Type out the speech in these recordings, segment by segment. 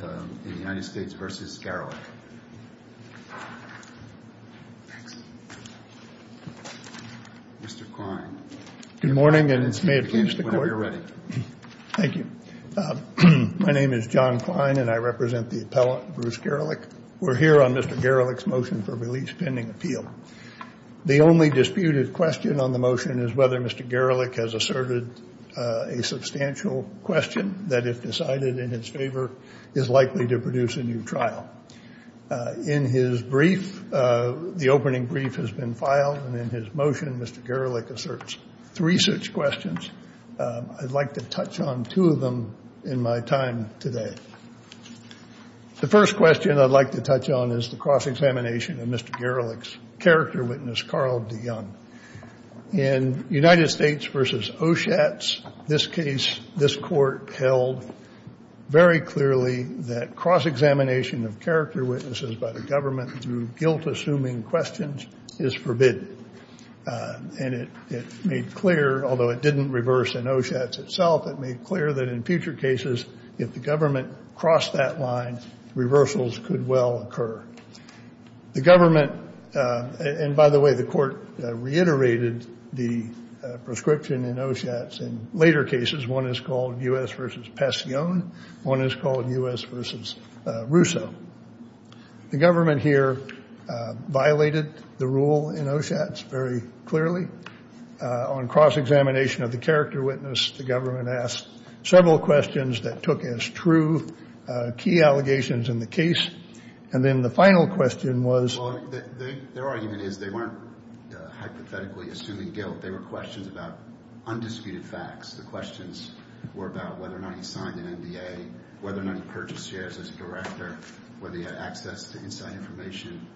My name is John Klein and I represent the appellant, Bruce Garelick. We're here on Mr. Garelick's motion for release pending appeal. The only disputed question on the motion is whether Mr. Garelick has asserted a substantial question that, if decided in his favor, is likely to produce a new trial. In his brief, the opening brief has been filed, and in his motion, Mr. Garelick asserts three such questions. I'd like to touch on two of them in my time today. The first question I'd like to touch on is the cross-examination of Mr. Garelick's character witness, Carl de Young. In United States v. Oschatz, this case, this court held very clearly that cross-examination of character witnesses by the government through guilt-assuming questions is forbidden. And it made clear, although it didn't reverse in Oschatz itself, it made clear that in future cases, if the government crossed that line, reversals could well occur. The government, and by the way, the court reiterated the prescription in Oschatz in later cases. One is called U.S. v. Passione. One is called U.S. v. Russo. The government here violated the rule in Oschatz very clearly on cross-examination of the character witness. The government asked several questions that took as true key allegations in the case. And then the final question was— Well, their argument is they weren't hypothetically assuming guilt. They were questions about undisputed facts. The questions were about whether or not he signed an NDA, whether or not he purchased shares as a director, whether he had access to inside information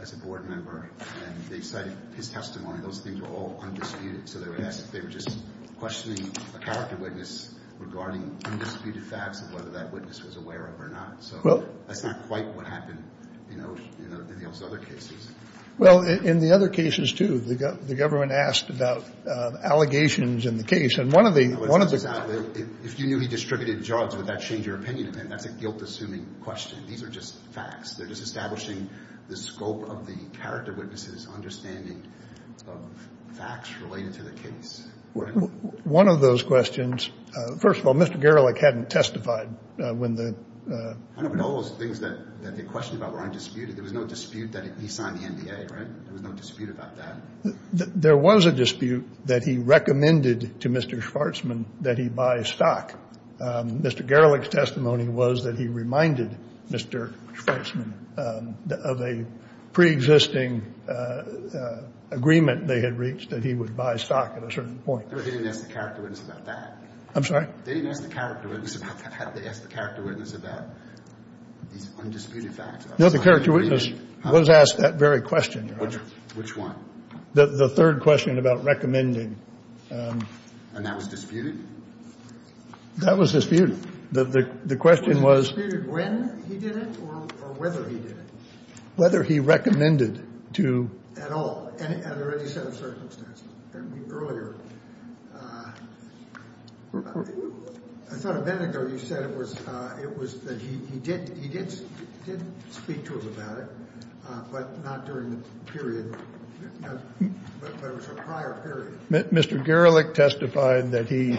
as a board member. And they cited his testimony. Those things were all undisputed. So they were just questioning a character witness regarding undisputed facts and whether that witness was aware of it or not. So that's not quite what happened in those other cases. Well, in the other cases, too, the government asked about allegations in the case. And one of the— If you knew he distributed jobs, would that change your opinion of him? That's a guilt-assuming question. These are just facts. They're just establishing the scope of the character witness's understanding of facts related to the case. One of those questions—first of all, Mr. Gerlich hadn't testified when the— I know, but all those things that they questioned about were undisputed. There was no dispute that he signed the NDA, right? There was no dispute about that. There was a dispute that he recommended to Mr. Schwarzman that he buy stock. Mr. Gerlich's testimony was that he reminded Mr. Schwarzman of a preexisting agreement they had reached that he would buy stock at a certain point. But they didn't ask the character witness about that. I'm sorry? They didn't ask the character witness about that. They asked the character witness about these undisputed facts. No, the character witness was asked that very question, Your Honor. Which one? The third question about recommending. And that was disputed? That was disputed. The question was— Was it disputed when he did it or whether he did it? Whether he recommended to— At all, under any set of circumstances. I thought a minute ago you said it was that he did speak to him about it, but not during the period, but it was a prior period. Mr. Gerlich testified that he,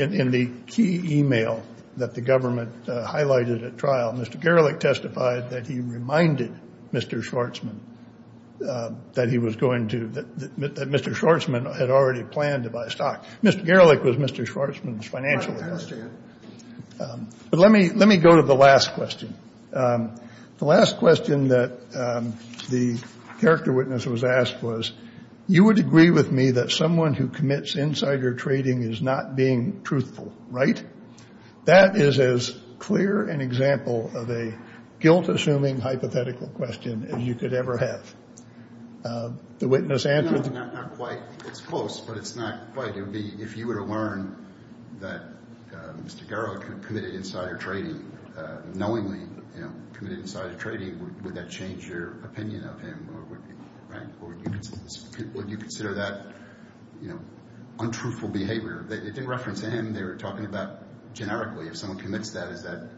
in the key e-mail that the government highlighted at trial, Mr. Gerlich testified that he reminded Mr. Schwarzman that he was going to—that Mr. Schwarzman had already planned to buy stock. Mr. Gerlich was Mr. Schwarzman's financial advisor. I understand. But let me go to the last question. The last question that the character witness was asked was, you would agree with me that someone who commits insider trading is not being truthful, right? That is as clear an example of a guilt-assuming hypothetical question as you could ever have. The witness answered— No, not quite. It's close, but it's not quite. It would be, if you were to learn that Mr. Gerlich committed insider trading, knowingly, you know, committed insider trading, would that change your opinion of him? Right? Would you consider that, you know, untruthful behavior? It didn't reference him. They were talking about, generically, if someone commits that, is that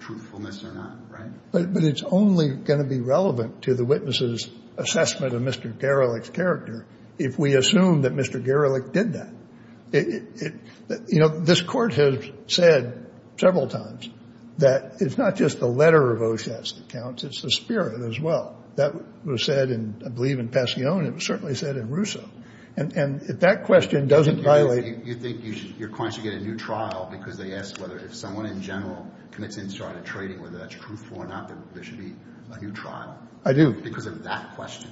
truthfulness or not, right? But it's only going to be relevant to the witness's assessment of Mr. Gerlich's character if we assume that Mr. Gerlich did that. You know, this Court has said several times that it's not just the letter of O'Shatt's that counts. It's the spirit as well. That was said in, I believe, in Passione. It was certainly said in Russo. And if that question doesn't violate— You think your client should get a new trial because they asked whether if someone in general commits insider trading, whether that's truthful or not, there should be a new trial? I do. Because of that question.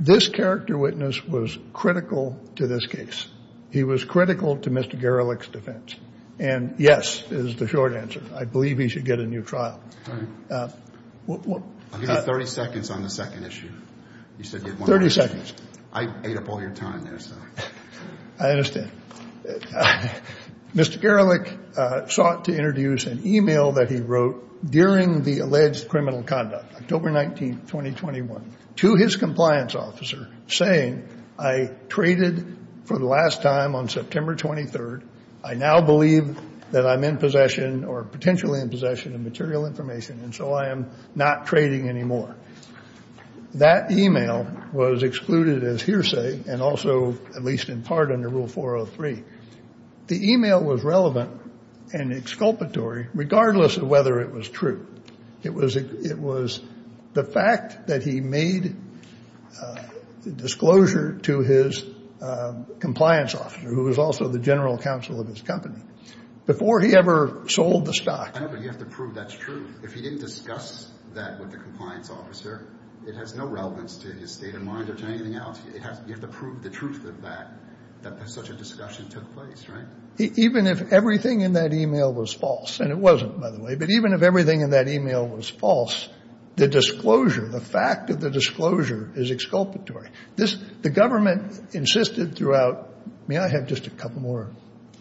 This character witness was critical to this case. He was critical to Mr. Gerlich's defense. And yes is the short answer. I believe he should get a new trial. All right. I'll give you 30 seconds on the second issue. You said you had one more question. 30 seconds. I ate up all your time there, so. I understand. Mr. Gerlich sought to introduce an e-mail that he wrote during the alleged criminal conduct, October 19th, 2021, to his compliance officer saying, I traded for the last time on September 23rd. I now believe that I'm in possession or potentially in possession of material information, and so I am not trading anymore. That e-mail was excluded as hearsay and also at least in part under Rule 403. The e-mail was relevant and exculpatory regardless of whether it was true. It was the fact that he made disclosure to his compliance officer, who was also the general counsel of his company, before he ever sold the stock. You have to prove that's true. If he didn't discuss that with the compliance officer, it has no relevance to his state of mind or to anything else. You have to prove the truth of that, that such a discussion took place, right? Even if everything in that e-mail was false, and it wasn't, by the way, but even if everything in that e-mail was false, the disclosure, the fact of the disclosure is exculpatory. The government insisted throughout. May I have just a couple more,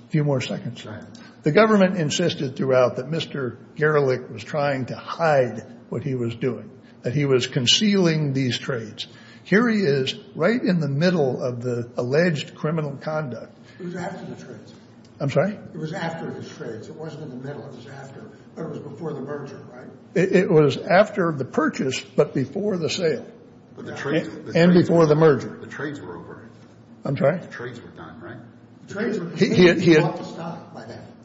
a few more seconds? Go ahead. The government insisted throughout that Mr. Gerlich was trying to hide what he was doing, that he was concealing these trades. Here he is right in the middle of the alleged criminal conduct. It was after the trades. I'm sorry? It was after the trades. It wasn't in the middle. It was after. It was before the merger, right? It was after the purchase but before the sale. And before the merger. The trades were over. I'm sorry? The trades were done, right?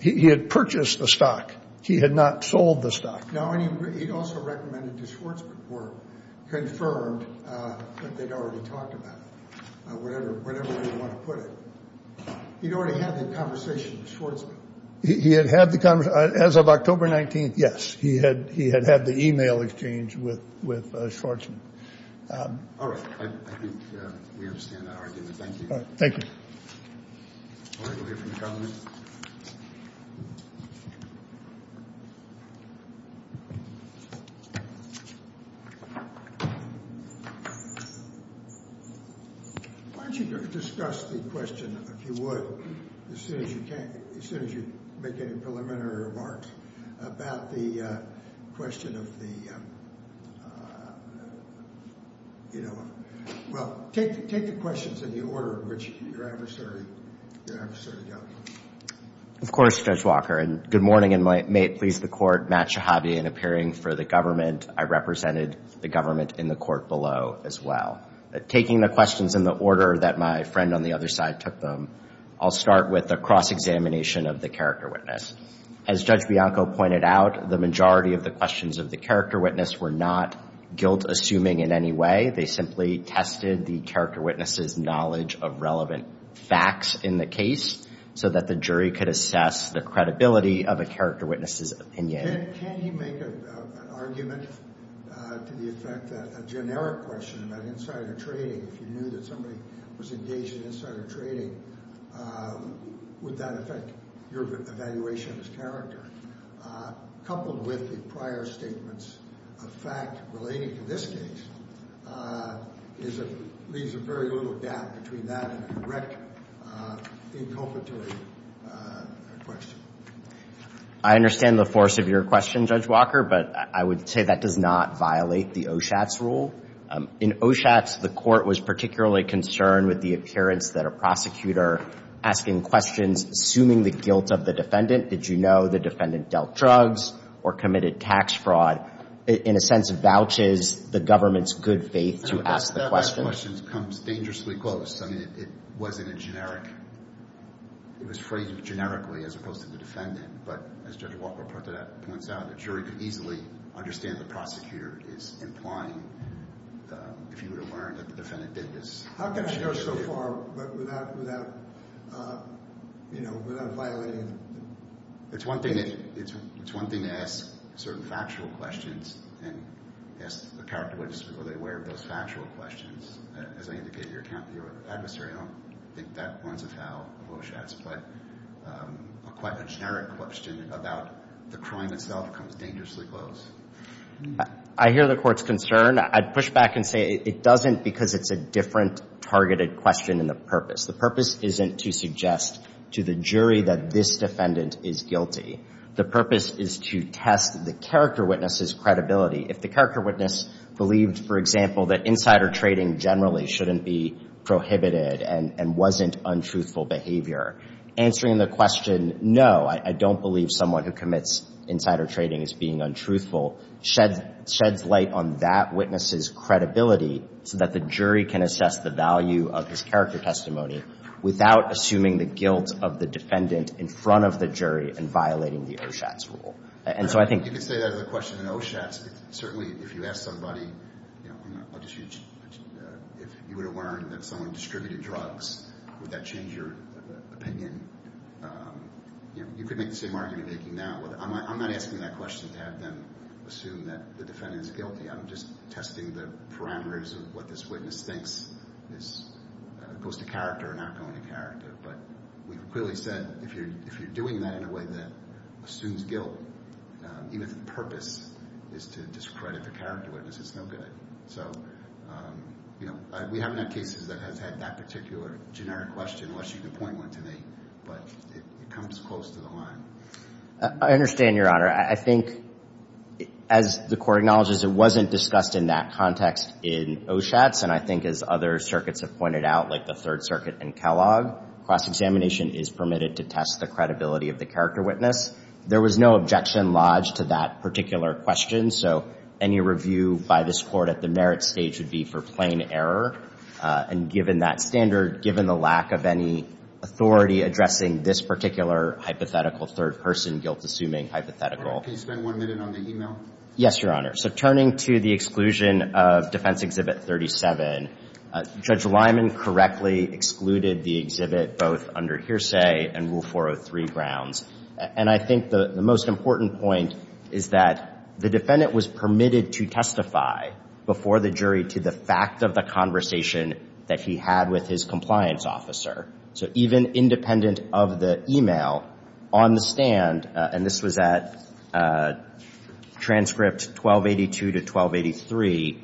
He had purchased the stock. He had not sold the stock. No, and he also recommended that Schwarzman were confirmed that they'd already talked about it, whatever you want to put it. He'd already had the conversation with Schwarzman. He had had the conversation. As of October 19th, yes, he had had the e-mail exchange with Schwarzman. All right. I think we understand that argument. Thank you. Thank you. Why don't you discuss the question, if you would, as soon as you can, as soon as you make any preliminary remarks about the question of the, you know. Well, take the questions in the order in which your adversary dealt with them. Of course, Judge Walker, and good morning, and may it please the Court, Matt Shahabi, in appearing for the government. I represented the government in the court below as well. Taking the questions in the order that my friend on the other side took them, I'll start with a cross-examination of the character witness. As Judge Bianco pointed out, the majority of the questions of the character witness were not guilt-assuming in any way. They simply tested the character witness's knowledge of relevant facts in the case so that the jury could assess the credibility of a character witness's opinion. Can you make an argument to the effect that a generic question about insider trading, if you knew that somebody was engaged in insider trading, would that affect your evaluation of his character? Coupled with the prior statements of fact relating to this case leaves a very little gap between that and a direct, inculpatory question. I understand the force of your question, Judge Walker, but I would say that does not violate the OSHATS rule. In OSHATS, the court was particularly concerned with the appearance that a prosecutor asking questions assuming the guilt of the defendant did you know the defendant dealt drugs or committed tax fraud, in a sense, vouches the government's good faith to ask the question. That question comes dangerously close. It was phrased generically as opposed to the defendant, but as Judge Walker points out, the jury could easily understand the prosecutor is implying, if you were to learn that the defendant did this. How can I go so far without violating? It's one thing to ask certain factual questions and ask the character witness, are they aware of those factual questions? As I indicated to your adversary, I don't think that runs afoul of OSHATS, but a generic question about the crime itself comes dangerously close. I hear the court's concern. I'd push back and say it doesn't because it's a different targeted question in the purpose. The purpose isn't to suggest to the jury that this defendant is guilty. The purpose is to test the character witness's credibility. If the character witness believed, for example, that insider trading generally shouldn't be prohibited and wasn't untruthful behavior, answering the question, no, I don't believe someone who commits insider trading is being untruthful, sheds light on that witness's credibility so that the jury can assess the value of his character testimony without assuming the guilt of the defendant in front of the jury and violating the OSHATS rule. And so I think you could say that as a question in OSHATS. Certainly, if you ask somebody, you know, if you were to learn that someone distributed drugs, would that change your opinion? You know, you could make the same argument you're making now. I'm not asking that question to have them assume that the defendant is guilty. I'm just testing the parameters of what this witness thinks goes to character or not going to character. But we've clearly said if you're doing that in a way that assumes guilt, even if the purpose is to discredit the character witness, it's no good. So, you know, we haven't had cases that has had that particular generic question unless you can point one to me. But it comes close to the line. I understand, Your Honor. I think as the court acknowledges, it wasn't discussed in that context in OSHATS. And I think as other circuits have pointed out, like the Third Circuit and Kellogg, cross-examination is permitted to test the credibility of the character witness. There was no objection lodged to that particular question. So any review by this Court at the merit stage would be for plain error. And given that standard, given the lack of any authority addressing this particular hypothetical third-person guilt-assuming hypothetical. Can you spend one minute on the e-mail? Yes, Your Honor. So turning to the exclusion of Defense Exhibit 37, Judge Lyman correctly excluded the exhibit both under hearsay and Rule 403 grounds. And I think the most important point is that the defendant was permitted to testify before the jury to the fact of the conversation that he had with his compliance officer. So even independent of the e-mail, on the stand, and this was at transcript 1282 to 1283,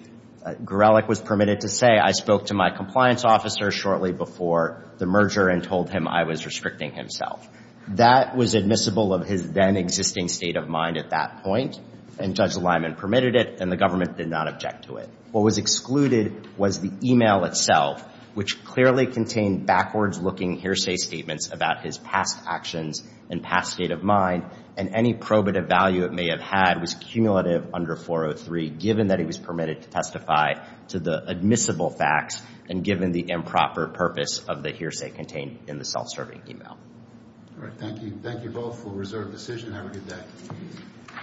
Gorelick was permitted to say, I spoke to my compliance officer shortly before the merger and told him I was restricting himself. That was admissible of his then-existing state of mind at that point, and Judge Lyman permitted it, and the government did not object to it. What was excluded was the e-mail itself, which clearly contained backwards-looking hearsay statements about his past actions and past state of mind, and any probative value it may have had was cumulative under 403, given that he was permitted to testify to the admissible facts and given the improper purpose of the hearsay contained in the self-serving e-mail. All right. Thank you. Thank you both for reserved decision. Have a good day.